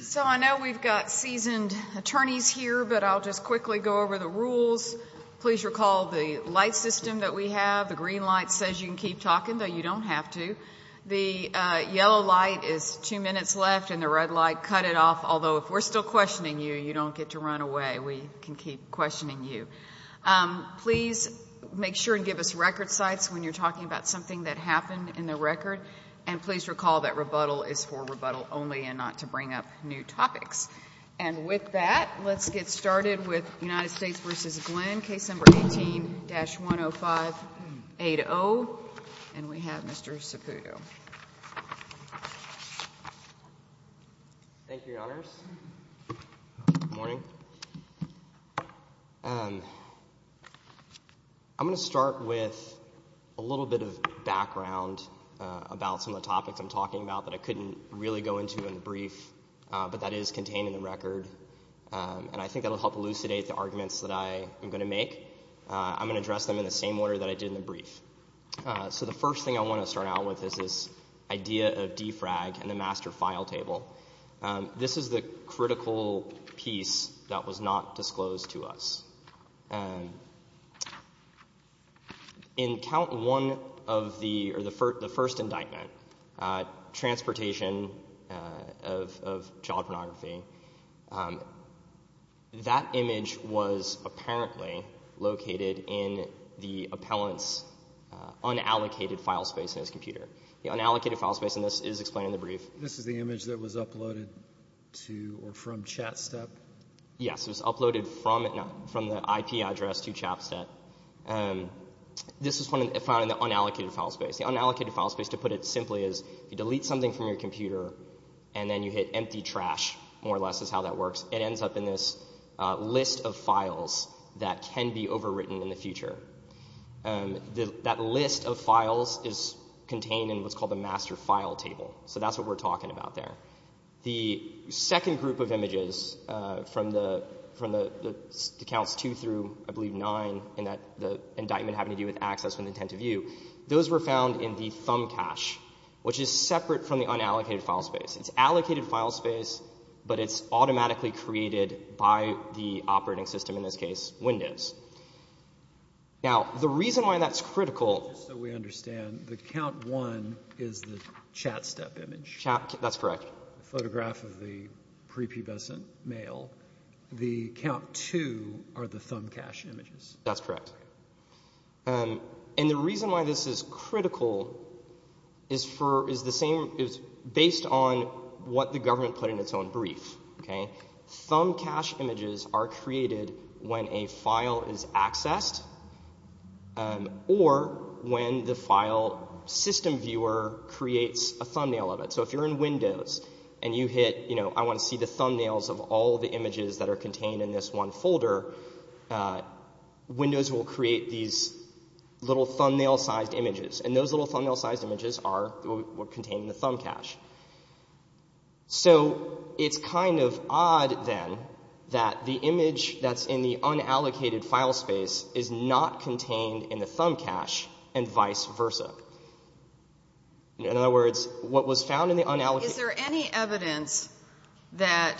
So I know we've got seasoned attorneys here but I'll just quickly go over the rules. Please recall the light system that we have. The green light says you can keep talking, though you don't have to. The yellow light is two minutes left and the red light cut it off, although if we're still questioning you, you don't get to run away. We can keep questioning you. Please make sure and give us record sites when you're talking about something that happened in the record and please recall that rebuttal is for rebuttal only and not to bring up new topics. And with that, let's get started with United States v. Glenn, case number 18-10580. And we have Mr. Saputo. Thank you, Your Honors. Good morning. I'm going to start with a little bit of background about some of the topics I'm talking about that I couldn't really go into in the brief but that is contained in the record and I think that will help elucidate the arguments that I am going to make. I'm going to address them in the same order that I did in the brief. So the first thing I want to start out with is this idea of DFRAG and the master file table. This is the critical piece that was not disclosed to us. In count one of the first indictment, transportation of child pornography, that image was apparently located in the unallocated file space and this is explained in the brief. This is the image that was uploaded to or from ChatStep? Yes, it was uploaded from the IP address to ChatStep. This was found in the unallocated file space. The unallocated file space, to put it simply, is you delete something from your computer and then you hit empty trash, more or less is how that works. It ends up in this list of files that can be called the master file table. So that's what we're talking about there. The second group of images from the counts two through, I believe, nine in the indictment having to do with access and intent to view, those were found in the thumb cache, which is separate from the unallocated file space. It's allocated file space but it's automatically created by the operating system, in this case, Windows. Now, the reason why that's critical... Just so we understand, the count one is the ChatStep image? That's correct. The photograph of the prepubescent male. The count two are the thumb cache images? That's correct. And the reason why this is critical is based on what the government put in its own brief. Thumb cache images are created when a file is accessed or when the file system viewer creates a thumbnail of it. So if you're in Windows and you hit, you know, I want to see the thumbnails of all the images that are contained in this one folder, Windows will create these little thumbnail sized images and those little It's kind of odd, then, that the image that's in the unallocated file space is not contained in the thumb cache and vice versa. In other words, what was found in the unallocated... Is there any evidence that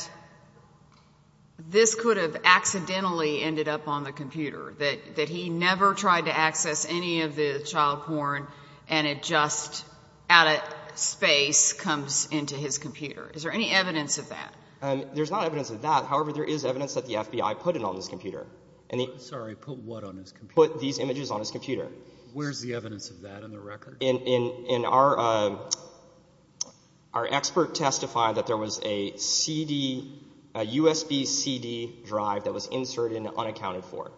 this could have accidentally ended up on the computer? That he never tried to access any of the child porn and it just, out of space, comes into his computer. Is there any evidence of that? There's not evidence of that. However, there is evidence that the FBI put it on this computer. Sorry, put what on his computer? Put these images on his computer. Where's the evidence of that in the record? Our expert testified that there was a CD, a USB CD drive that was inserted and unaccounted for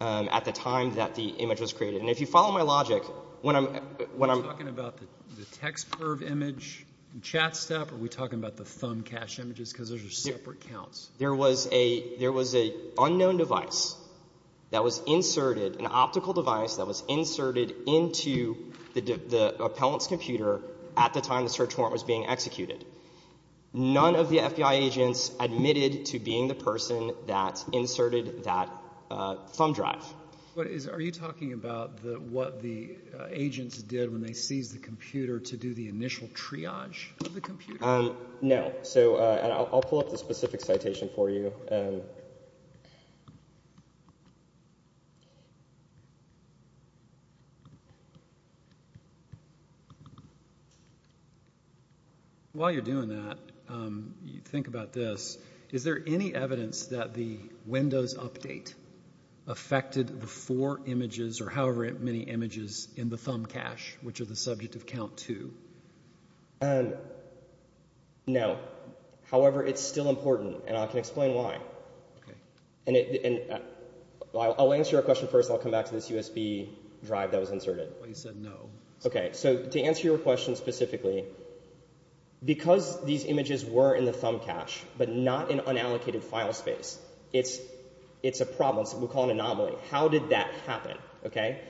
at the time that the FBI agents admitted to being the person that inserted that thumb drive. What is, are you talking about the, what the agents did when they see that the FBI agents admitted to being the person that inserted that thumb drive? There was a, there was a unknown device that was inserted, an optical device that was inserted into the appellant's computer at the time the search warrant was being executed. None of the FBI agents admitted to being the person that inserted that thumb drive. What is, are you talking about the, what the agents did when they seized the computer to do the initial triage of the computer? No, so I'll pull up the specific citation for you. While you're doing that, you think about this. Is there any evidence that the four images or however many images in the thumb cache, which are the subject of count two? No. However, it's still important and I can explain why. Okay. And I'll answer your question first, I'll come back to this USB drive that was inserted. Well, you said no. Okay, so to answer your question specifically, because these images were in the thumb cache but not in unallocated file space, it's, it's a problem. So we'll call it an anomaly. How did that happen? Okay.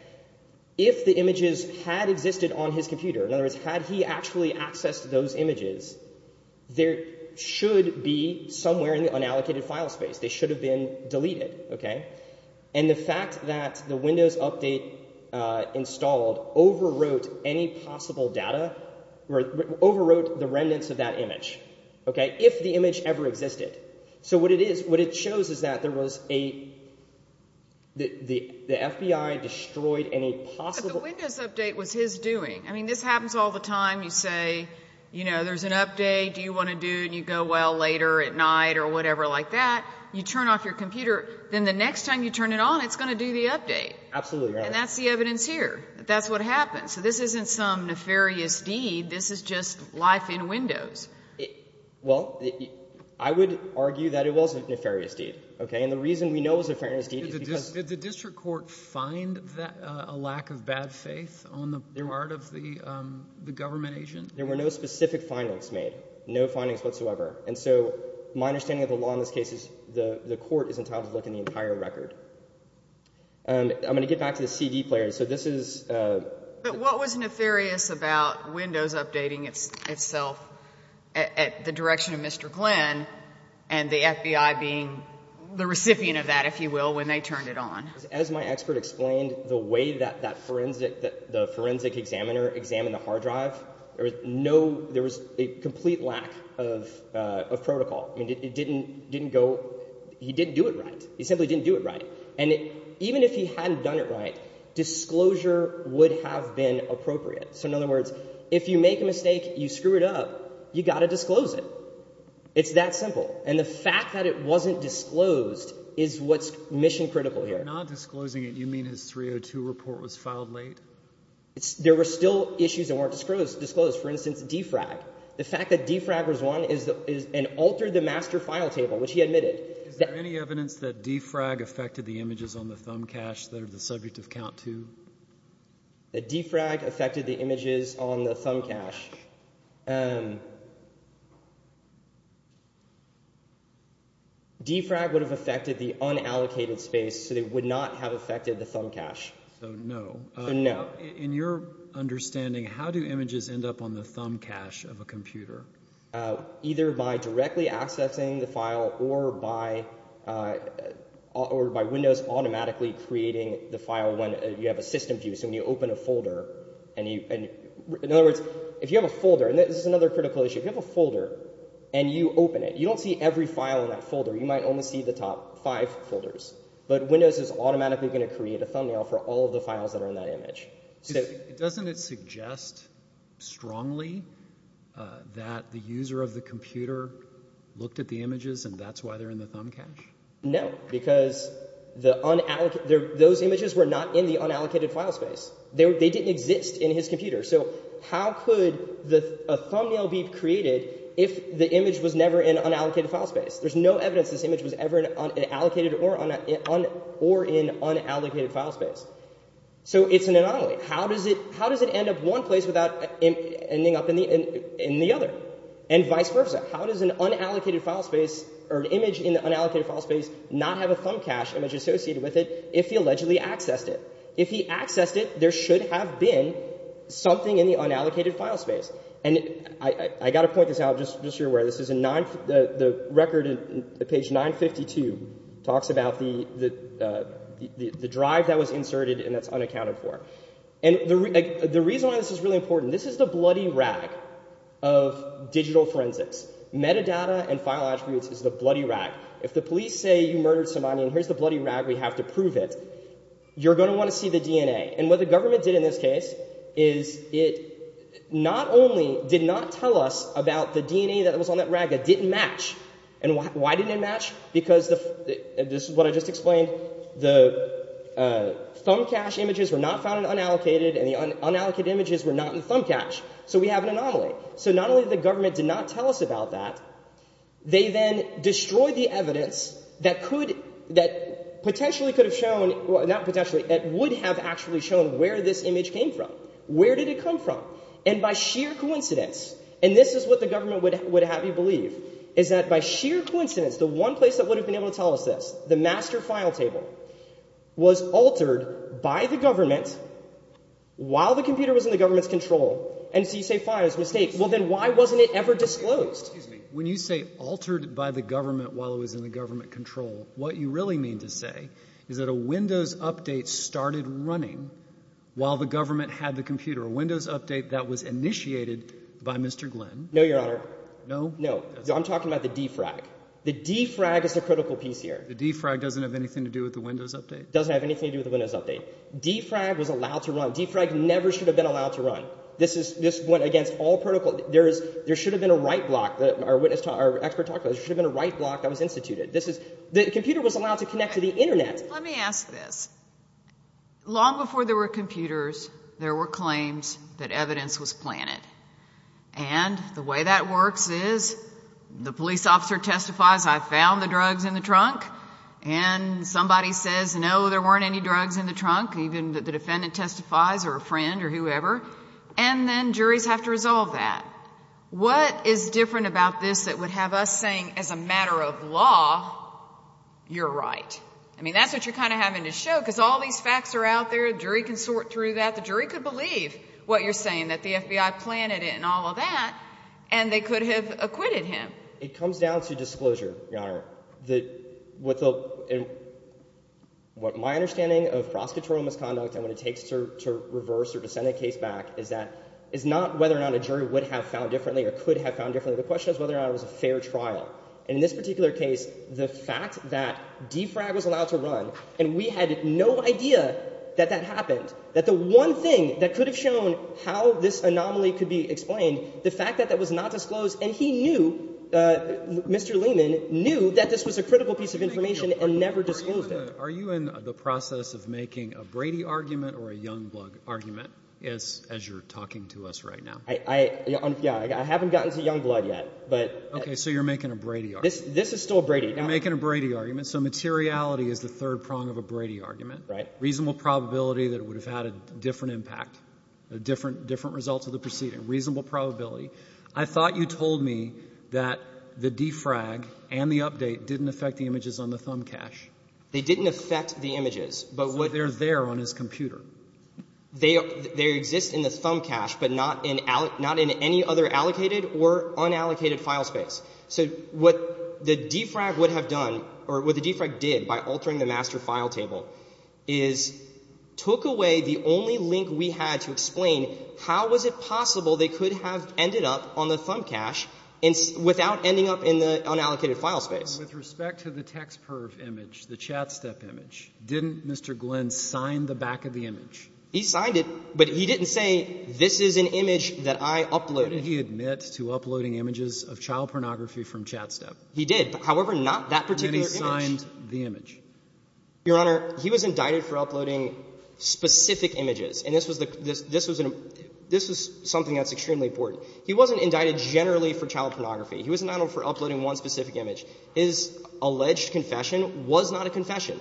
If the images had existed on his computer, in other words, had he actually accessed those images, there should be somewhere in the unallocated file space. They should have been deleted. Okay. And the fact that the Windows Update installed overwrote any possible data, overwrote the remnants of that image. Okay. If the image ever existed. So what it is, what it shows is that there was a, the FBI destroyed any possible... But the Windows Update was his doing. I mean, this happens all the time. You say, you know, there's an update, do you want to do, and you go, well, later at night or whatever like that. You turn off your computer, then the next time you turn it on, it's going to do the update. Absolutely. And that's the evidence here. That's what happened. So this isn't some nefarious deed, this is just life in Windows. Well, I would argue that it was a nefarious deed. Okay. And the reason we know it was a nefarious deed is because... Did the district court find that a lack of bad faith on the part of the government agent? There were no specific findings made. No findings whatsoever. And so my understanding of the law in this case is the court is entitled to look in the entire record. I'm going to get back to the CD player. So this is... But what was Mr. Glenn and the FBI being the recipient of that, if you will, when they turned it on? As my expert explained, the way that the forensic examiner examined the hard drive, there was no... There was a complete lack of protocol. I mean, it didn't go... He didn't do it right. He simply didn't do it right. And even if he hadn't done it right, disclosure would have been appropriate. So in other words, if you make a mistake, you screw it up, you got to disclose it. It's that simple. And the fact that it wasn't disclosed is what's mission-critical here. By not disclosing it, you mean his 302 report was filed late? There were still issues that weren't disclosed. For instance, D-FRAG. The fact that D-FRAG was one is... And altered the master file table, which he admitted. Is there any evidence that D-FRAG affected the images on the thumb cache that are the subject of count two? That D-FRAG affected the images on the thumb cache? D-FRAG would have affected the unallocated space, so they would not have affected the thumb cache. So no. So no. In your understanding, how do images end up on the thumb cache of a computer? Either by directly accessing the file or by... Or by Windows automatically creating the file when you have a system view. So when you open a folder and you... In other words, if you have a folder... And this is another critical issue. If you have a folder and you open it, you don't see every file in that folder. You might only see the top five folders. But Windows is automatically going to create a thumbnail for all of the files that are in that image. Doesn't it suggest strongly that the user of the computer looked at the images and that's why they're in the thumb cache? No. Because the unallocated... Those images were not in the unallocated file space. They didn't exist in his computer. So how could a thumbnail be created if the image was never in unallocated file space? There's no evidence this image was ever in an allocated or in unallocated file space. So it's an anomaly. How does it end up one place without ending up in the other? And vice versa. How does an unallocated file space or an image in the unallocated file space not have a thumb cache image associated with it if he allegedly accessed it? If he accessed it, there should have been something in the unallocated file space. And I got to point this out, just so you're aware. This is a nine... The record in page 952 talks about the drive that was inserted and that's unaccounted for. And the reason why this is really important... This is the bloody rag of digital forensics. Metadata and file attributes is the bloody rag. If the police say you murdered somebody and here's the bloody rag we have to prove it, you're going to want to see the DNA. And what the government did in this case is it not only did not tell us about the DNA that was on that rag that didn't match... And why didn't it match? Because the... This is what I just explained. The thumb cache images were not found in unallocated and the unallocated images were not in the file space. And because they did not tell us about that, they then destroyed the evidence that could... That potentially could have shown... Well, not potentially, that would have actually shown where this image came from. Where did it come from? And by sheer coincidence, and this is what the government would have you believe, is that by sheer coincidence the one place that would have been able to tell us this, the master file table, was altered by the government while the computer was in the government's control. And so you say, fine, it's a mistake. Well then why wasn't it ever disclosed? When you say altered by the government while it was in the government control, what you really mean to say is that a Windows update started running while the government had the computer. A Windows update that was initiated by Mr. Glenn. No, Your Honor. No? No. I'm talking about the D-FRAG. The D-FRAG is the critical piece here. The D-FRAG doesn't have anything to do with the Windows update? Doesn't have anything to do with the Windows update. D-FRAG was allowed to run. D-FRAG never should have been allowed to run. There is, there should have been a write block that our witness, our expert talked about. There should have been a write block that was instituted. This is, the computer was allowed to connect to the Internet. Let me ask this. Long before there were computers, there were claims that evidence was planted. And the way that works is the police officer testifies, I found the drugs in the trunk, and somebody says, no, there weren't any drugs in the trunk. Even the defendant testifies, or a friend, or whoever, and then juries have to resolve that. What is different about this that would have us saying, as a matter of law, you're right? I mean, that's what you're kind of having to show, because all these facts are out there. A jury can sort through that. The jury could believe what you're saying, that the FBI planted it and all of that, and they could have acquitted him. It comes down to disclosure, Your Honor. What my understanding of prosecutorial misconduct, and what it takes to reverse or to send a case back, is that, is not whether or not a jury would have found differently, or could have found differently. The question is whether or not it was a fair trial. And in this particular case, the fact that D-FRAG was allowed to run, and we had no idea that that happened, that the one thing that could have shown how this anomaly could be explained, the fact that that was not disclosed, and he knew, Mr. Lehman knew that this was a critical piece of information, and never disclosed it. Are you in the process of making a Brady argument or a Youngblood argument, as you're talking to us right now? I haven't gotten to Youngblood yet, but... Okay, so you're making a Brady argument. This is still a Brady. You're making a Brady argument, so materiality is the third prong of a Brady argument. Right. Reasonable probability that it would have had a different impact, a different different result of the proceeding, reasonable probability. I thought you told me that the D-FRAG and the update didn't affect the images on the thumb cache. They didn't affect the images, but what... So they're there on his computer. They exist in the thumb cache, but not in any other allocated or unallocated file space. So what the D-FRAG would have done, or what the D-FRAG did by altering the master file table, is took away the only link we had to explain how was it possible they could have ended up on the thumb cache without ending up in the image, the Chat Step image. Didn't Mr. Glenn sign the back of the image? He signed it, but he didn't say, this is an image that I uploaded. Did he admit to uploading images of child pornography from Chat Step? He did, however, not that particular image. Then he signed the image. Your Honor, he was indicted for uploading specific images, and this was something that's extremely important. He wasn't indicted generally for child pornography. He wasn't indicted for child pornography. It was not a confession.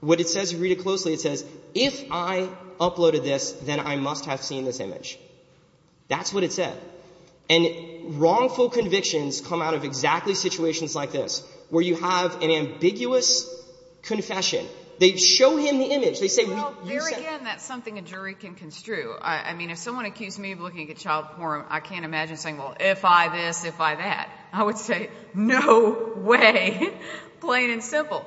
What it says, read it closely, it says, if I uploaded this, then I must have seen this image. That's what it said. And wrongful convictions come out of exactly situations like this, where you have an ambiguous confession. They show him the image. They say... Well, there again, that's something a jury can construe. I mean, if someone accused me of looking at child porn, I can't imagine saying, well, if I this, if I that. I would say, no way, plain and simple.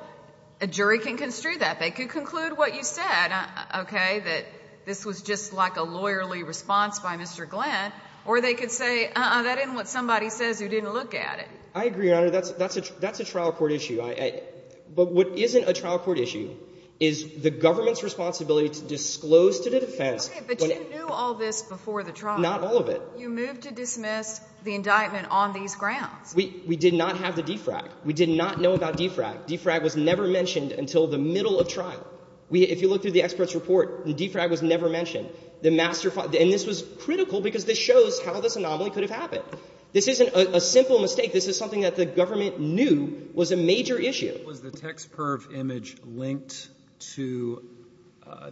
A jury can construe that. They could conclude what you said, okay, that this was just like a lawyerly response by Mr. Glenn, or they could say, uh-uh, that isn't what somebody says, who didn't look at it. I agree, Your Honor. That's a trial court issue. But what isn't a trial court issue is the government's responsibility to disclose to the defense... Okay, but you knew all this before the trial. Not all of it. You moved to dismiss the indictment on these grounds. We, we did not have the DFRAG. We did not know about DFRAG. DFRAG was never mentioned until the middle of trial. We, if you look through the expert's report, the DFRAG was never mentioned. The master... And this was critical, because this shows how this anomaly could have happened. This isn't a simple mistake. This is something that the government knew was a major issue. Was the TexPerv image linked to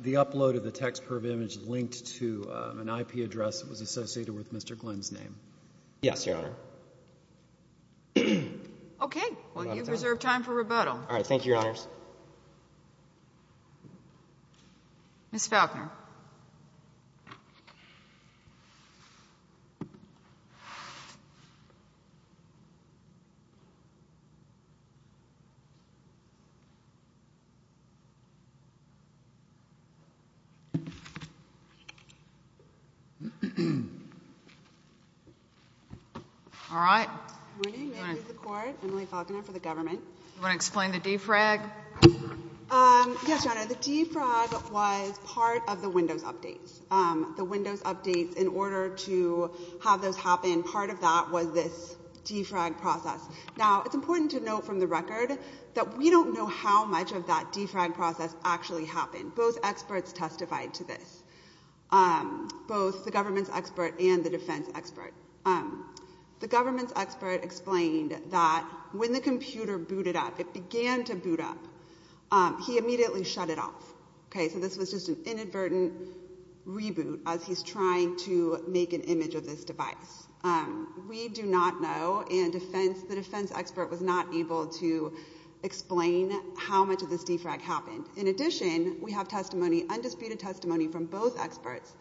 the upload of the TexPerv image linked to an IP address that was associated with Mr. Glenn's name? Yes, Your Honor. Okay. Well, you've reserved time for rebuttal. All right. Thank you, Your Honor. All right. Good morning. Ma'am, this is the court. Emily Falconer for the government. You want to explain the DFRAG? Yes, Your Honor. The DFRAG was part of the Windows updates. The Windows updates, in order to have those happen, part of that was this DFRAG process. Now, it's important to note from the record that we don't know how much of that DFRAG process actually happened. Both experts testified to this, both the government's expert and the defense expert. The government's expert explained that when the computer booted up, it began to boot up, he immediately shut it off. Okay? So this was just an inadvertent reboot as he's trying to make an image of this device. We do not know, and the defense expert was not able to explain how much of this DFRAG happened. In addition, we have testimony, undisputed testimony, from both experts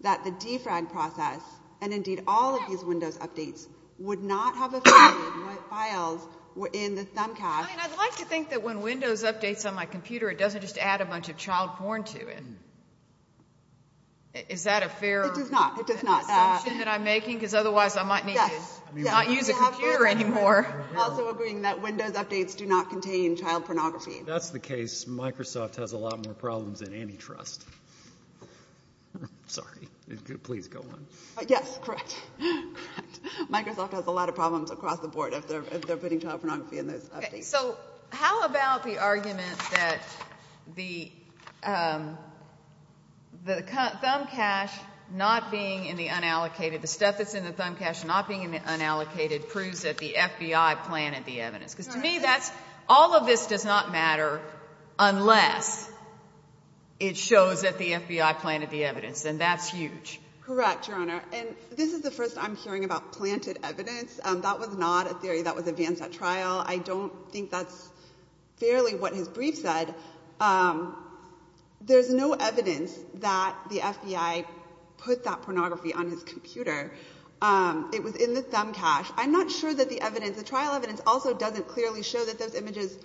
that the DFRAG process, and indeed all of these Windows updates, would not have affected what files were in the thumbcast. I'd like to think that when Windows updates on my computer, it doesn't just add a bunch of child porn to it. Is that a fair assumption that I'm making? Because otherwise I might need to not use a computer anymore. Also agreeing that Windows updates do not contain child pornography. That's the case. Microsoft has a lot more problems than antitrust. Sorry. Please go on. Yes, correct. Microsoft has a lot of problems across the board if they're about the argument that the thumbcache not being in the unallocated, the stuff that's in the thumbcache not being in the unallocated proves that the FBI planted the evidence. Because to me, that's, all of this does not matter unless it shows that the FBI planted the evidence. And that's huge. Correct, Your Honor. And this is the first I'm hearing about I don't think that's fairly what his brief said. There's no evidence that the FBI put that pornography on his computer. It was in the thumbcache. I'm not sure that the evidence, the trial evidence also doesn't clearly show that those images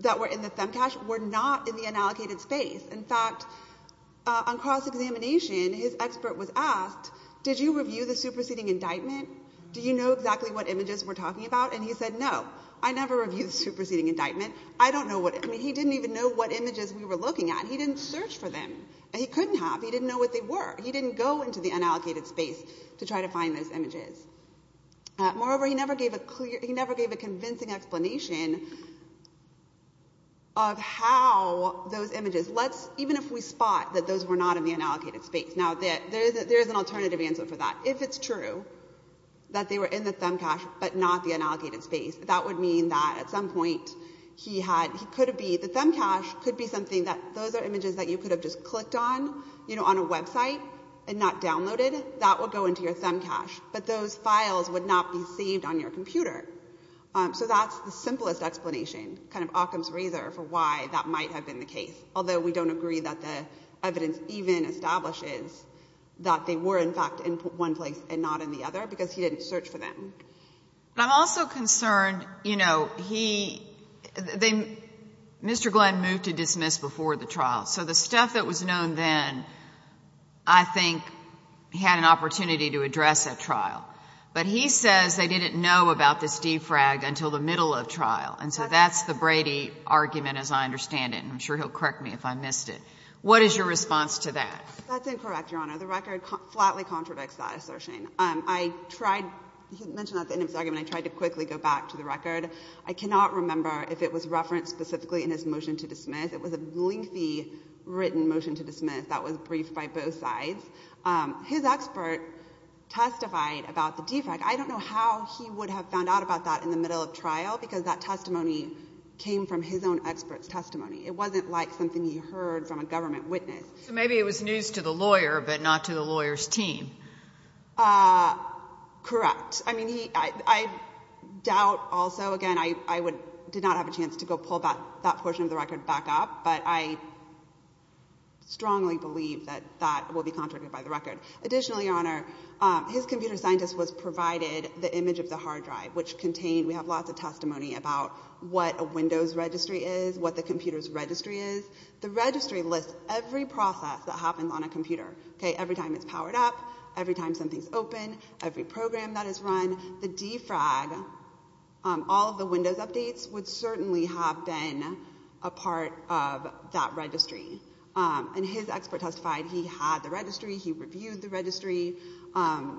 that were in the thumbcache were not in the unallocated space. In fact, on cross-examination, his expert was asked, did you review the superseding indictment? Do you know exactly what images we're talking about? And he said, no, I never reviewed the superseding indictment. I don't know what, I mean, he didn't even know what images we were looking at. He didn't search for them. And he couldn't have. He didn't know what they were. He didn't go into the unallocated space to try to find those images. Moreover, he never gave a clear, he never gave a convincing explanation of how those images, let's, even if we spot that those were not in the unallocated space. Now, there is an alternative answer for that. If it's true that they were in the unallocated space, that would mean that at some point he had, he could be, the thumbcache could be something that, those are images that you could have just clicked on, you know, on a website and not downloaded. That would go into your thumbcache, but those files would not be saved on your computer. So that's the simplest explanation, kind of Occam's razor for why that might have been the case. Although we don't agree that the evidence even establishes that they were in fact in one place and not in the other because he didn't search for them. But I'm also concerned, you know, he, they, Mr. Glenn moved to dismiss before the trial. So the stuff that was known then, I think, had an opportunity to address at trial. But he says they didn't know about this defrag until the middle of trial. And so that's the Brady argument as I understand it. I'm sure he'll correct me if I missed it. What is your response to that? That's incorrect, Your Honor. The record flatly contradicts that assertion. I tried, he mentioned at the end of his argument, I tried to quickly go back to the record. I cannot remember if it was referenced specifically in his motion to dismiss. It was a lengthy written motion to dismiss that was briefed by both sides. His expert testified about the defrag. I don't know how he would have found out about that in the middle of trial because that testimony came from his own expert's testimony. It wasn't like something he heard from a government witness. So maybe it was news to the lawyer, but not to the lawyer's team. Correct. I mean, he, I, I doubt also, again, I, I would, did not have a chance to go pull that, that portion of the record back up, but I strongly believe that that will be contradicted by the record. Additionally, Your Honor, his computer scientist was provided the image of the hard drive, which contained, we have lots of testimony about what a Windows registry is, what the computer's registry is. The registry lists every process that happens on a computer, okay, every time it's powered up, every time something's open, every program that is run. The defrag, all of the Windows updates would certainly have been a part of that registry. And his expert testified he had the registry, he reviewed the registry.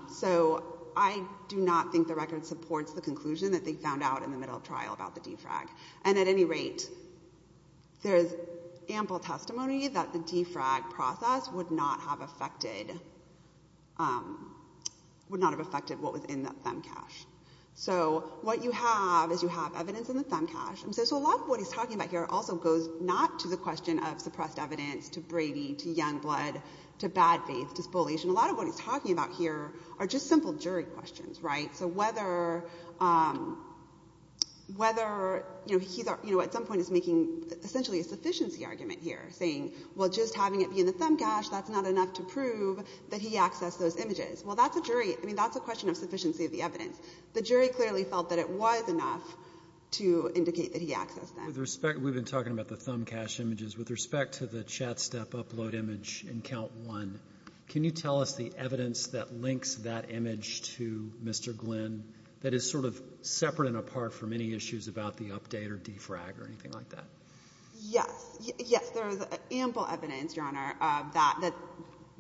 So I do not think the record supports the conclusion that they found out in the middle of the trial about the defrag. And at any rate, there's ample testimony that the defrag process would not have affected, would not have affected what was in the femcache. So what you have is you have evidence in the femcache. And so, so a lot of what he's talking about here also goes not to the question of suppressed evidence, to Brady, to Youngblood, to bad faith, to spoliation. A lot of what he's talking about here are just simple jury questions, right? So whether, whether, you know, he's, you know, at some point is making essentially a sufficiency argument here, saying, well, just having it be in the femcache, that's not enough to prove that he accessed those images. Well, that's a jury, I mean, that's a question of sufficiency of the evidence. The jury clearly felt that it was enough to indicate that he accessed them. With respect, we've been talking about the femcache images. With respect to the chat step upload image in count one, can you tell us the evidence that links that image to Mr. Glynn that is sort of separate and apart from any issues about the update or defrag or anything like that? Yes. Yes, there is ample evidence, Your Honor, that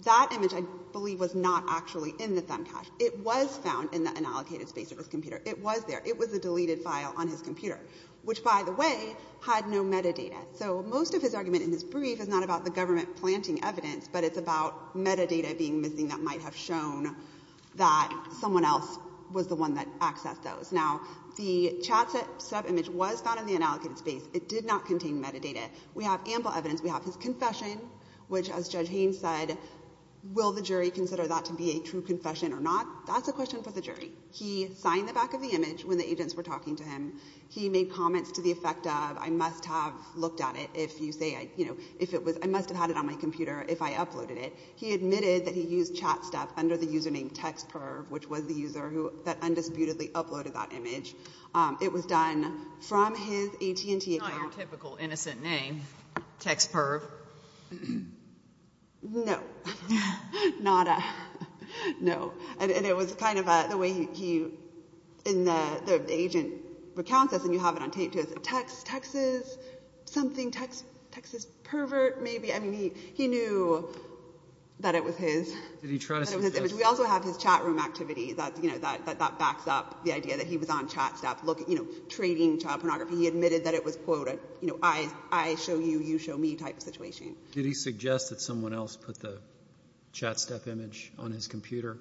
that image I believe was not actually in the femcache. It was found in an allocated space of his computer. It was there. It was a deleted file on his computer, which, by the way, had no metadata. So most of his argument in his brief is not about the government planting evidence, but it's about metadata being missing that might have shown that someone else was the one that accessed those. Now, the chat step image was found in the unallocated space. It did not contain metadata. We have ample evidence. We have his confession, which, as Judge Haynes said, will the jury consider that to be a true confession or not? That's a question for the jury. He signed the back of the image when the agents were talking to him. He made comments to the effect of, I must have looked at it. I must have had it on my computer if I uploaded it. He admitted that he used chat step under the username textperv, which was the user that undisputedly uploaded that image. It was done from his AT&T account. It's not your typical innocent name, textperv. No. Not a... No. And it was kind of the way he... The agent recounts this, and you have it on tape, too. It's a text, Texas something, Texas pervert, maybe. I mean, he knew that it was his. Did he try to suggest... We also have his chat room activity that backs up the idea that he was on chat step, trading child pornography. He admitted that it was, quote, an I show you, you show me type of situation. Did he suggest that someone else put the chat step image on his computer?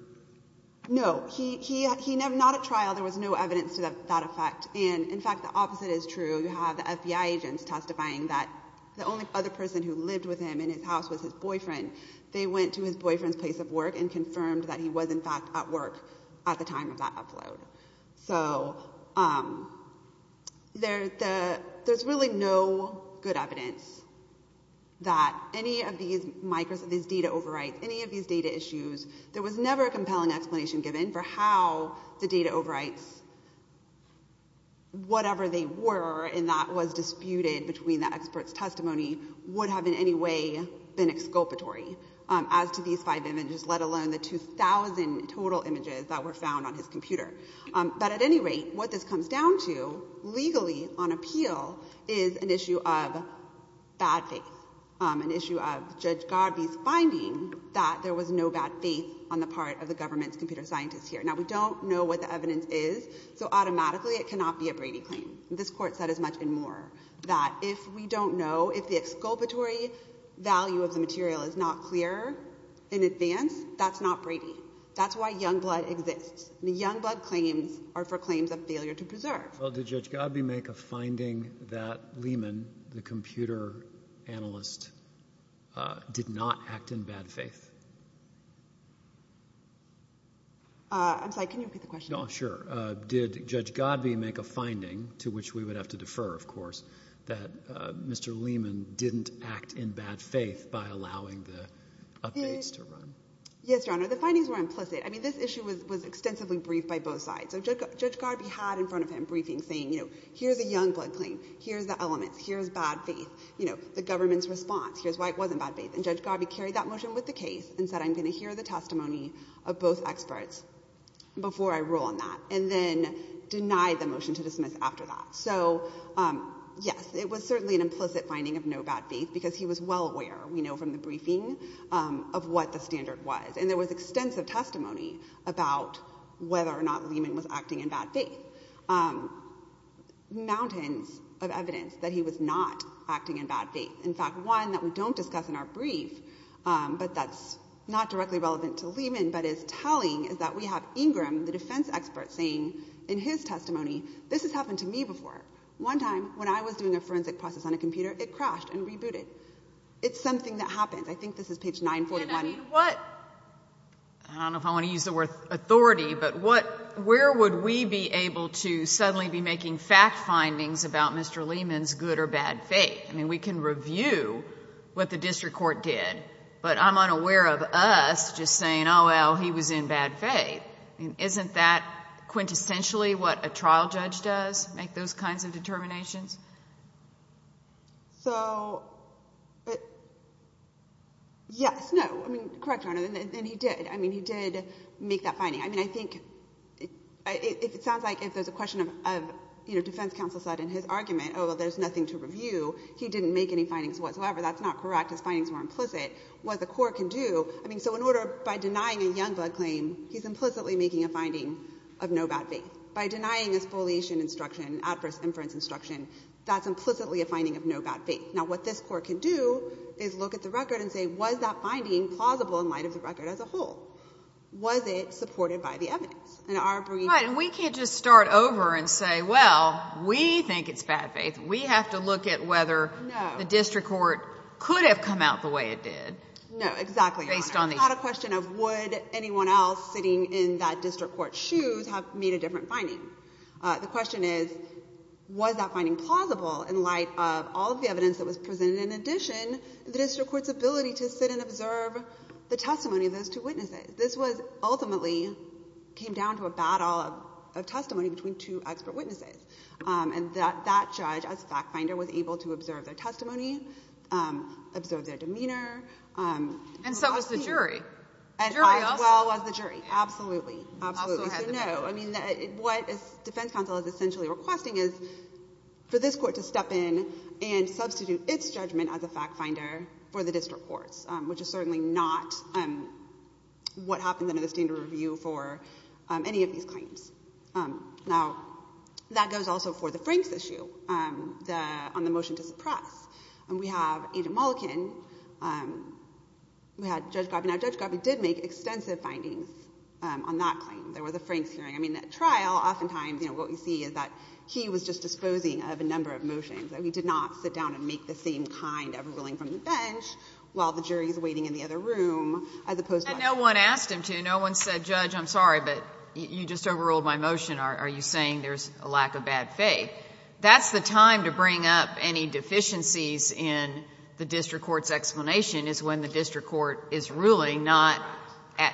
No. He never... Not at trial, there was no evidence to that effect. And, in fact, the opposite is true. You have the FBI agents testifying that the only other person who lived with him in his house was his boyfriend. They went to his boyfriend's place of work and confirmed that he was, in fact, at work at the time of that upload. So there's really no good evidence that any of these data overwrites, any of these data overwrites, whatever they were, and that was disputed between the experts' testimony, would have in any way been exculpatory as to these five images, let alone the 2,000 total images that were found on his computer. But, at any rate, what this comes down to, legally, on appeal, is an issue of bad faith, an issue of Judge Garvey's finding that there was no bad faith on the part of the government's computer scientists here. Now, we don't know what the evidence is, so automatically it cannot be a Brady claim. This Court said as much and more that if we don't know, if the exculpatory value of the material is not clear in advance, that's not Brady. That's why Youngblood exists. The Youngblood claims are for claims of failure to preserve. Well, did Judge Garvey make a finding that Lehman, the computer analyst, did not act in bad faith? I'm sorry, can you repeat the question? No, sure. Did Judge Garvey make a finding, to which we would have to defer, of course, that Mr. Lehman didn't act in bad faith by allowing the updates to run? Yes, Your Honor, the findings were implicit. I mean, this issue was extensively briefed by both sides. So Judge Garvey had in front of him briefings saying, you know, here's a Youngblood claim, here's the elements, here's bad faith, you know, the government's response, here's why it wasn't bad faith. And Judge Garvey carried that motion with the case and said, I'm going to hear the testimony of both experts before I rule on that, and then denied the motion to dismiss after that. So, yes, it was certainly an implicit finding of no bad faith because he was well aware, we know from the briefing, of what the standard was. There was extensive testimony about whether or not Lehman was acting in bad faith. Mountains of evidence that he was not acting in bad faith. In fact, one that we don't discuss in our brief, but that's not directly relevant to Lehman, but is telling, is that we have Ingram, the defense expert, saying in his testimony, this has happened to me before. One time, when I was doing a forensic process on a computer, it crashed and rebooted. It's something that happened. I think this is page 941. I don't know if I want to use the word authority, but where would we be able to suddenly be making fact findings about Mr. Lehman's good or bad faith? I mean, we can review what the district court did, but I'm unaware of us just saying, oh, well, he was in bad faith. Isn't that quintessentially what a trial judge does, make those kinds of determinations? So, yes, no. I mean, correct, Your Honor, and he did. I mean, he did make that finding. I mean, I think it sounds like if there's a question of, you know, defense counsel said in his argument, oh, well, there's nothing to review. He didn't make any findings whatsoever. That's not correct. His findings were implicit. What the court can do, I mean, so in order, by denying a young blood claim, he's implicitly making a finding of no bad faith. By denying a spoliation instruction, adverse inference instruction, that's implicitly a finding of no bad faith. Now, what this court can do is look at the record and say, was that finding plausible in light of the record as a whole? Was it supported by the evidence? And our brief... Right, and we can't just start over and say, well, we think it's bad faith. We have to look at whether the district court could have come out the way it did. No, exactly, Your Honor. It's not a question of would anyone else sitting in that district court's shoes have made a different finding. The question is, was that finding plausible in light of all of the evidence that was presented? In addition, the district court's ability to sit and observe the testimony of those two witnesses. This was ultimately came down to a battle of testimony between two expert witnesses. And that judge, as a fact finder, was able to observe their testimony, observe their demeanor... And so was the jury. Jury also? As well as the jury, absolutely, absolutely. So no, I mean, what Defense Counsel is essentially requesting is for this court to step in and substitute its judgment as a fact finder for the district court's, which is certainly not what happens under the standard review for any of these claims. Now, that goes also for the Franks issue, on the motion to extensive findings on that claim. There was a Franks hearing. I mean, at trial, oftentimes, you know, what we see is that he was just disposing of a number of motions, and he did not sit down and make the same kind of ruling from the bench while the jury is waiting in the other room as opposed to... And no one asked him to. No one said, Judge, I'm sorry, but you just overruled my motion. Are you saying there's a lack of bad faith? That's the time to bring up any deficiencies in the district court's explanation is when the district court is ruling, not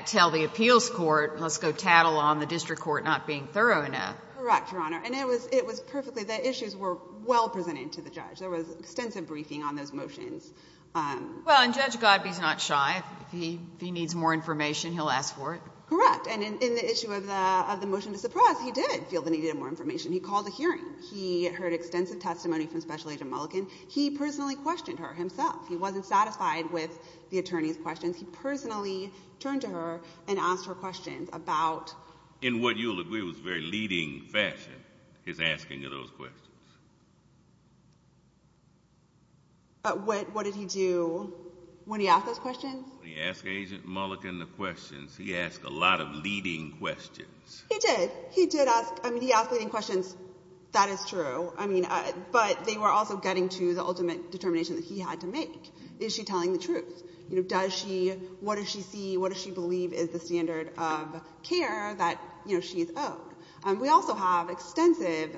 tell the appeals court, let's go tattle on the district court not being thorough enough. Correct, Your Honor. And it was perfectly, the issues were well presented to the judge. There was extensive briefing on those motions. Well, and Judge Godbee is not shy. If he needs more information, he'll ask for it. Correct. And in the issue of the motion to suppress, he did feel the need of more information. He called a hearing. He heard extensive testimony from Special Agent Mulligan. He personally questioned her himself. He wasn't satisfied with the attorney's questions. He personally turned to her and asked her questions about... In what you'll agree was very leading fashion, his asking of those questions. What did he do when he asked those questions? When he asked Agent Mulligan the questions, he asked a lot of leading questions. He did. He did ask, I mean, he asked leading questions. That is true. I mean, but they were also getting to the ultimate determination that he had to make. Is she telling the truth? You know, does she, what does she see, what does she believe is the standard of care that, you know, she's owed? We also have extensive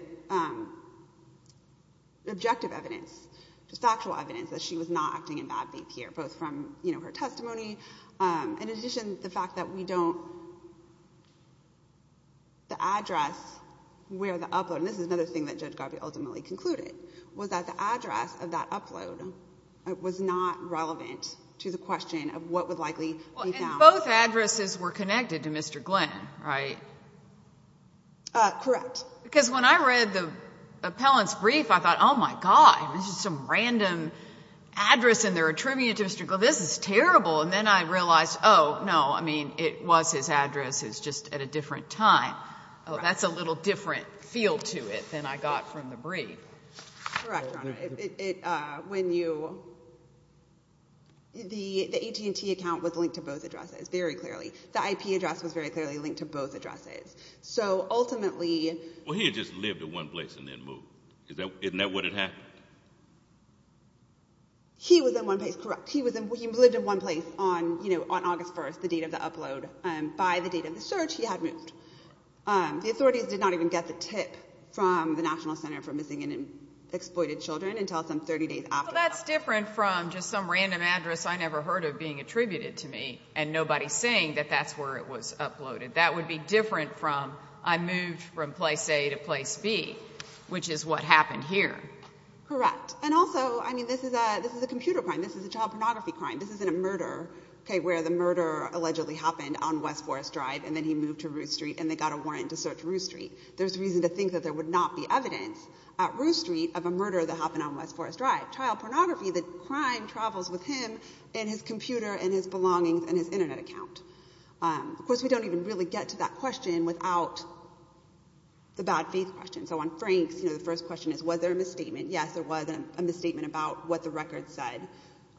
objective evidence, just actual evidence that she was not acting in bad faith here, both from, you know, her testimony, and in addition, the fact that we don't... The address where the upload, and this is another thing that Judge Godbee ultimately concluded, was that the address of that upload was not relevant to the question of what would likely be found. Well, and both addresses were connected to Mr. Glenn, right? Correct. Because when I read the appellant's brief, I thought, oh my God, this is some random address and they're attributing it to Mr. Glenn. This is terrible. And then I realized, oh no, I mean, it was his address, it's just at a different time. Oh, that's a little different feel to it than I got from the brief. Correct, Your Honor. The AT&T account was linked to both addresses, very clearly. The IP address was very clearly linked to both addresses. So ultimately... Well, he had just lived in one place and then moved. Isn't that what had happened? He was in one place, correct. He lived in one place on, you know, on August 1st, the date of upload, by the date of the search he had moved. The authorities did not even get the tip from the National Center for Missing and Exploited Children until some 30 days after that. So that's different from just some random address I never heard of being attributed to me and nobody saying that that's where it was uploaded. That would be different from I moved from place A to place B, which is what happened here. Correct. And also, I mean, this is a computer crime. This is a child pornography crime. This isn't a murder, okay, where the murder allegedly happened on West Forest Drive and then he moved to Roost Street and they got a warrant to search Roost Street. There's reason to think that there would not be evidence at Roost Street of a murder that happened on West Forest Drive. Child pornography, the crime, travels with him and his computer and his belongings and his internet account. Of course, we don't even really get to that question without the bad faith question. So on Frank's, you know, the first question is, was there a misstatement? Yes, there was a misstatement about what the record said.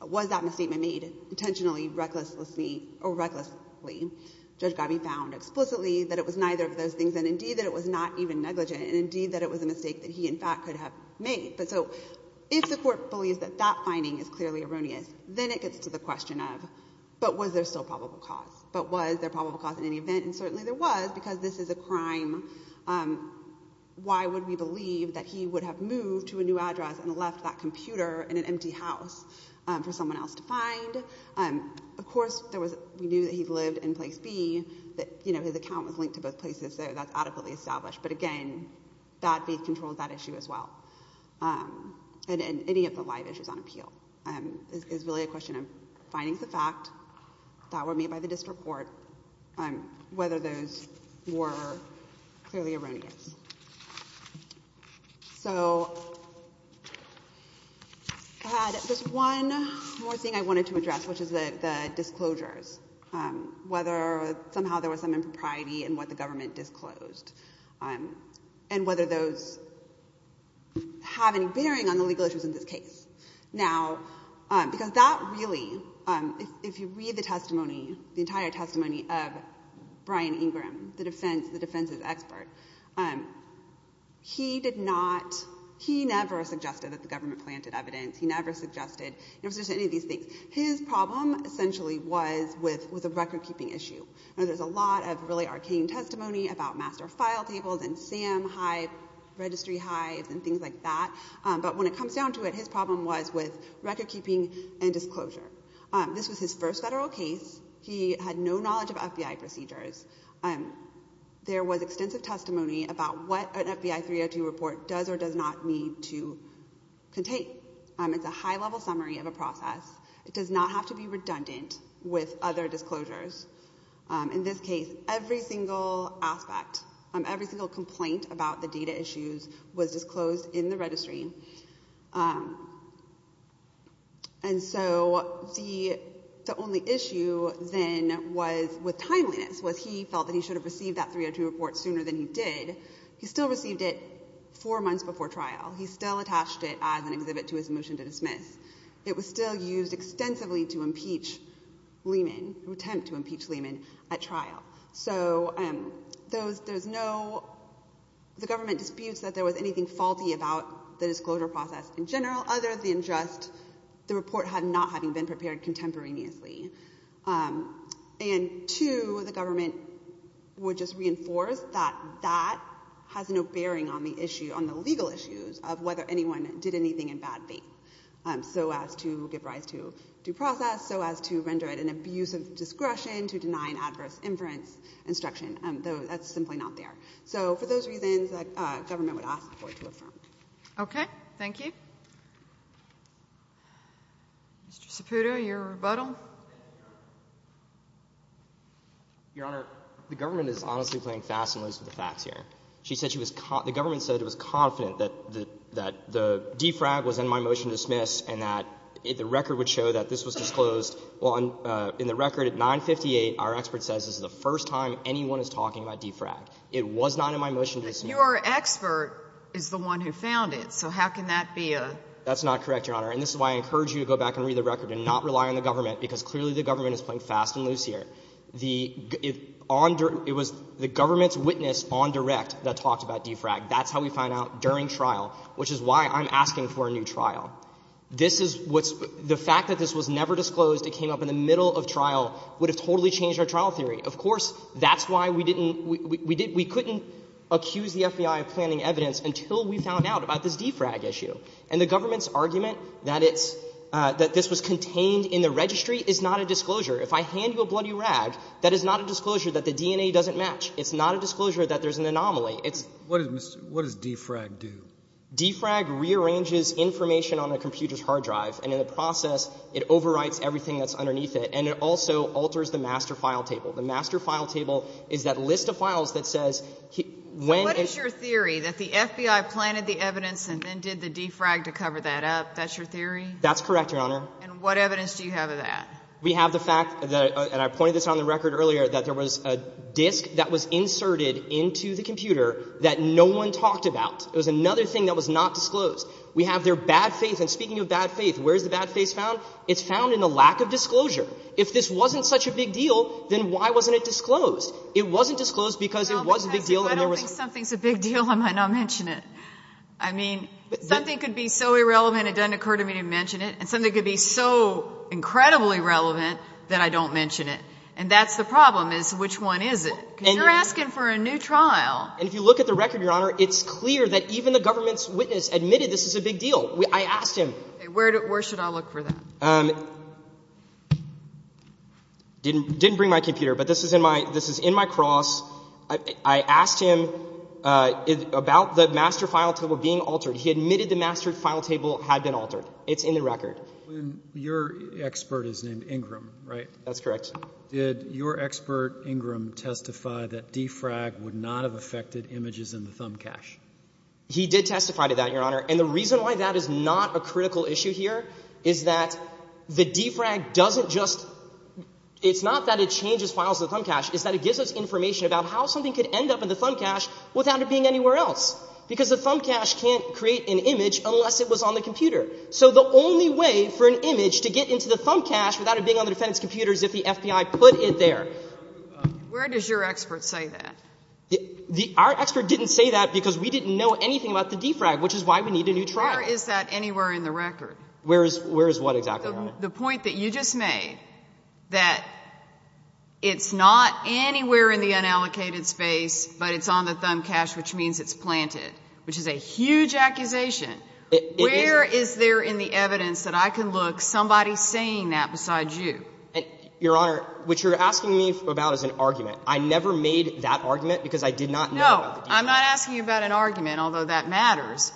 Was that misstatement made intentionally, recklessly, or recklessly? Judge Gabby found explicitly that it was neither of those things and indeed that it was not even negligent and indeed that it was a mistake that he, in fact, could have made. But so if the court believes that that finding is clearly erroneous, then it gets to the question of, but was there still probable cause? But was there probable cause in any event? And certainly there was because this is a crime. Why would we believe that he would have moved to a new address and left that computer in an empty house for someone else to find? Of course, we knew that he lived in place B, that, you know, his account was linked to both places, so that's adequately established. But again, bad faith controls that issue as well. And any of the live issues on appeal is really a question of finding the fact that were made by the district court, whether those were clearly erroneous. So I had just one more thing I wanted to address, which is the disclosures. Whether somehow there was some impropriety in what the government disclosed, and whether those have any bearing on the legal issues in this case. Now, because that really, if you read the testimony, the entire testimony of Brian Ingram, the defense's expert, he did not, he never suggested that the government planted evidence. He never suggested any of these things. His problem essentially was with a record-keeping issue. There's a lot of really arcane testimony about master file tables and SAM hives, registry hives, and things like that. But when it comes down to it, his problem was with record-keeping and disclosure. This was his first federal case. He had no knowledge of FBI procedures. There was extensive testimony about what an FBI 302 report does or does not need to contain. It's a high-level summary of a process. It does not have to be redundant with other disclosures. In this case, every single aspect, every single complaint about the data issues was disclosed in the registry. And so the only issue then was, with timeliness, was he felt that he should have received that 302 report sooner than he did. He still received it four months before trial. He still attached it as an exhibit to his motion to dismiss. It was still used extensively to impeach Lehman, an attempt to impeach Lehman at trial. So there's no—the government disputes that there was anything faulty about the disclosure process in general other than just the report not having been prepared contemporaneously. And two, the government would just reinforce that that has no bearing on the issue, on the legal issues, of whether anyone did anything in bad faith, so as to give rise to due process, so as to render it an abuse of So for those reasons, the government would ask for it to affirm. Okay. Thank you. Mr. Saputo, your rebuttal. Your Honor, the government is honestly playing fast and loose with the facts here. She said she was—the government said it was confident that the defrag was in my motion to dismiss and that the record would show that this was disclosed. Well, in the record at 958, our expert says this is the first time anyone is talking about defrag. It was not in my motion to dismiss. But your expert is the one who found it. So how can that be a— That's not correct, Your Honor. And this is why I encourage you to go back and read the record and not rely on the government, because clearly the government is playing fast and loose here. It was the government's witness on direct that talked about defrag. That's how we find out during trial, which is why I'm asking for a new trial. This is what's—the fact that this was trial theory. Of course, that's why we didn't—we couldn't accuse the FBI of planning evidence until we found out about this defrag issue. And the government's argument that it's—that this was contained in the registry is not a disclosure. If I hand you a bloody rag, that is not a disclosure that the DNA doesn't match. It's not a disclosure that there's an anomaly. It's— What does defrag do? Defrag rearranges information on a computer's hard drive. And in the process, it overwrites everything that's underneath it. And it also alters the master file table. The master file table is that list of files that says when— What is your theory? That the FBI planted the evidence and then did the defrag to cover that up? That's your theory? That's correct, Your Honor. And what evidence do you have of that? We have the fact that—and I pointed this out on the record earlier—that there was a disk that was inserted into the computer that no one talked about. It was another thing that was not disclosed. We have their bad faith. And speaking of bad faith, where's the bad faith found? It's found in the lack of disclosure. If this wasn't such a big deal, then why wasn't it disclosed? It wasn't disclosed because it was a big deal and there was— I don't think something's a big deal. I might not mention it. I mean, something could be so irrelevant, it doesn't occur to me to mention it. And something could be so incredibly relevant that I don't mention it. And that's the problem, is which one is it? Because you're asking for a new trial. And if you look at the record, Your Honor, it's clear that even the government's witness admitted this is a big deal. I asked him. Where should I look for that? Didn't bring my computer, but this is in my cross. I asked him about the master file table being altered. He admitted the master file table had been altered. It's in the record. But your expert is named Ingram, right? That's correct. Did your expert, Ingram, testify that DFRAG would not have affected images in the thumb cache? He did testify to that, Your Honor. And the reason why that is not a critical issue here is that the DFRAG doesn't just—it's not that it changes files in the thumb cache. It's that it gives us information about how something could end up in the thumb cache without it being anywhere else. Because the thumb cache can't create an image unless it was on the computer. So the only way for an image to get into the thumb cache without it being on the defendant's computer is if the FBI put it there. Where does your expert say that? Our expert didn't say that because we didn't know anything about the DFRAG, which is why we need a new trial. Where is that anywhere in the record? Where is what exactly, Your Honor? The point that you just made, that it's not anywhere in the unallocated space, but it's on the thumb cache, which means it's planted, which is a huge accusation. Where is there in the evidence that I can look somebody saying that besides you? Your Honor, what you're asking me about is an argument. I never made that argument because I did not know about the DFRAG. No. I'm not asking you about an argument, although that matters.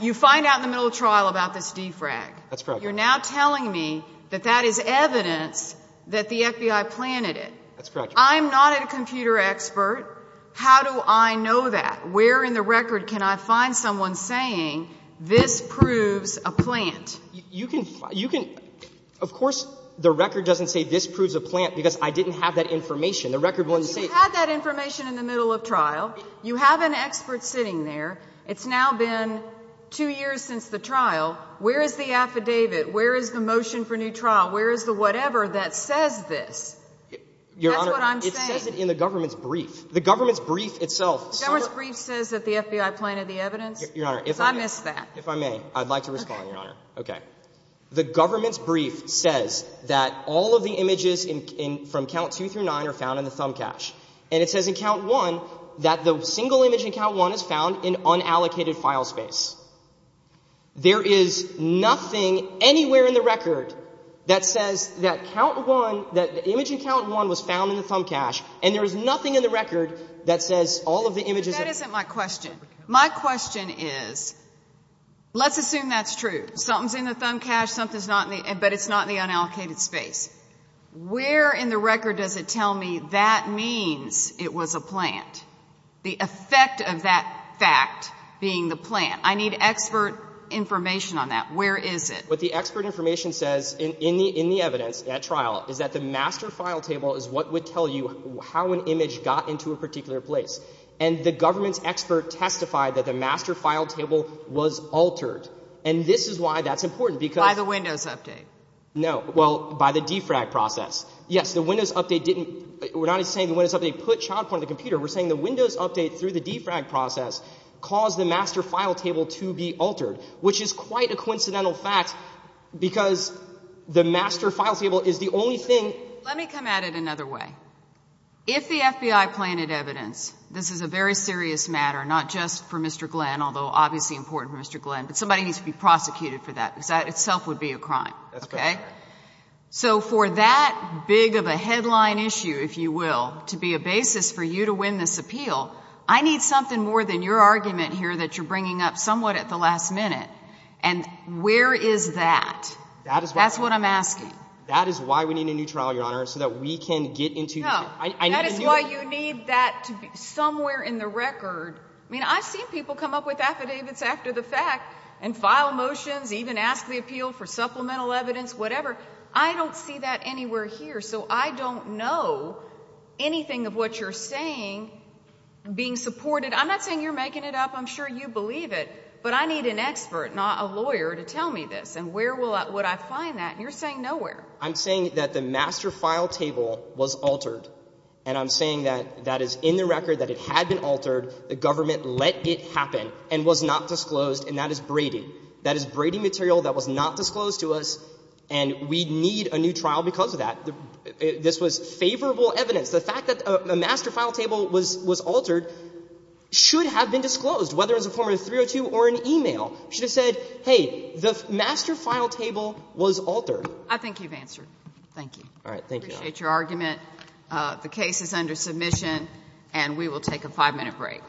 You find out in the middle of trial about this DFRAG. That's correct. You're now telling me that that is evidence that the FBI planted it. That's correct. I'm not a computer expert. How do I know that? Where in the record can I find someone saying this proves a plant? You can find, you can, of course, the record doesn't say this proves a plant because I didn't have that information. The record wouldn't say it. You had that information in the middle of trial. You have an expert sitting there. It's now been two years since the trial. Where is the affidavit? Where is the motion for new trial? Where is the whatever that says this? Your Honor, it says it in the government's brief. The government's brief itself. The government's brief says that the FBI planted the evidence? Your Honor, if I may. I missed that. If I may, I'd like to respond, Your Honor. Okay. The government's brief says that all of the images in, from count two through nine are found in the thumb cache. And it says in count one that the single image in count one is found in unallocated file space. There is nothing anywhere in the record that says that count one, that the image in count one was found in the thumb cache. And there is nothing in the record that says all of the images. That isn't my question. My question is, let's assume that's true. Something's in the thumb cache. Something's not in the, but it's not in the unallocated space. Where in the record does it tell me that means it was a plant? The effect of that fact being the plant? I need expert information on that. Where is it? What the expert information says in the evidence, at trial, is that the master file table is what would tell you how an image got into a particular place. And the government's expert testified that the master file table was altered. And this is why that's important, because... By the Windows update. No, well, by the defrag process. Yes, the Windows update didn't... We're not saying the Windows update put child porn on the computer. We're saying the Windows update through the defrag process caused the master file table to be altered, which is quite a coincidental fact, because the master file table is the only thing... Let me come at it another way. If the FBI planted evidence, this is a very serious matter, not just for Mr. Glenn, although obviously important for Mr. Glenn, somebody needs to be prosecuted for that, because that itself would be a crime. So for that big of a headline issue, if you will, to be a basis for you to win this appeal, I need something more than your argument here that you're bringing up somewhat at the last minute. And where is that? That's what I'm asking. That is why we need a new trial, Your Honor, so that we can get into... No, that is why you need that to be somewhere in the record. I mean, I've seen people come up with affidavits after the fact, file motions, even ask the appeal for supplemental evidence, whatever. I don't see that anywhere here. So I don't know anything of what you're saying being supported. I'm not saying you're making it up. I'm sure you believe it. But I need an expert, not a lawyer, to tell me this. And where would I find that? And you're saying nowhere. I'm saying that the master file table was altered. And I'm saying that that is in the record that it had been altered. The government let it happen and was not disclosed. And that is Brady. That is Brady material that was not disclosed to us. And we need a new trial because of that. This was favorable evidence. The fact that a master file table was altered should have been disclosed, whether it was a form of 302 or an email, should have said, hey, the master file table was altered. I think you've answered. Thank you. All right. Thank you. Appreciate your argument. The case is under submission, and we will take a five-minute break.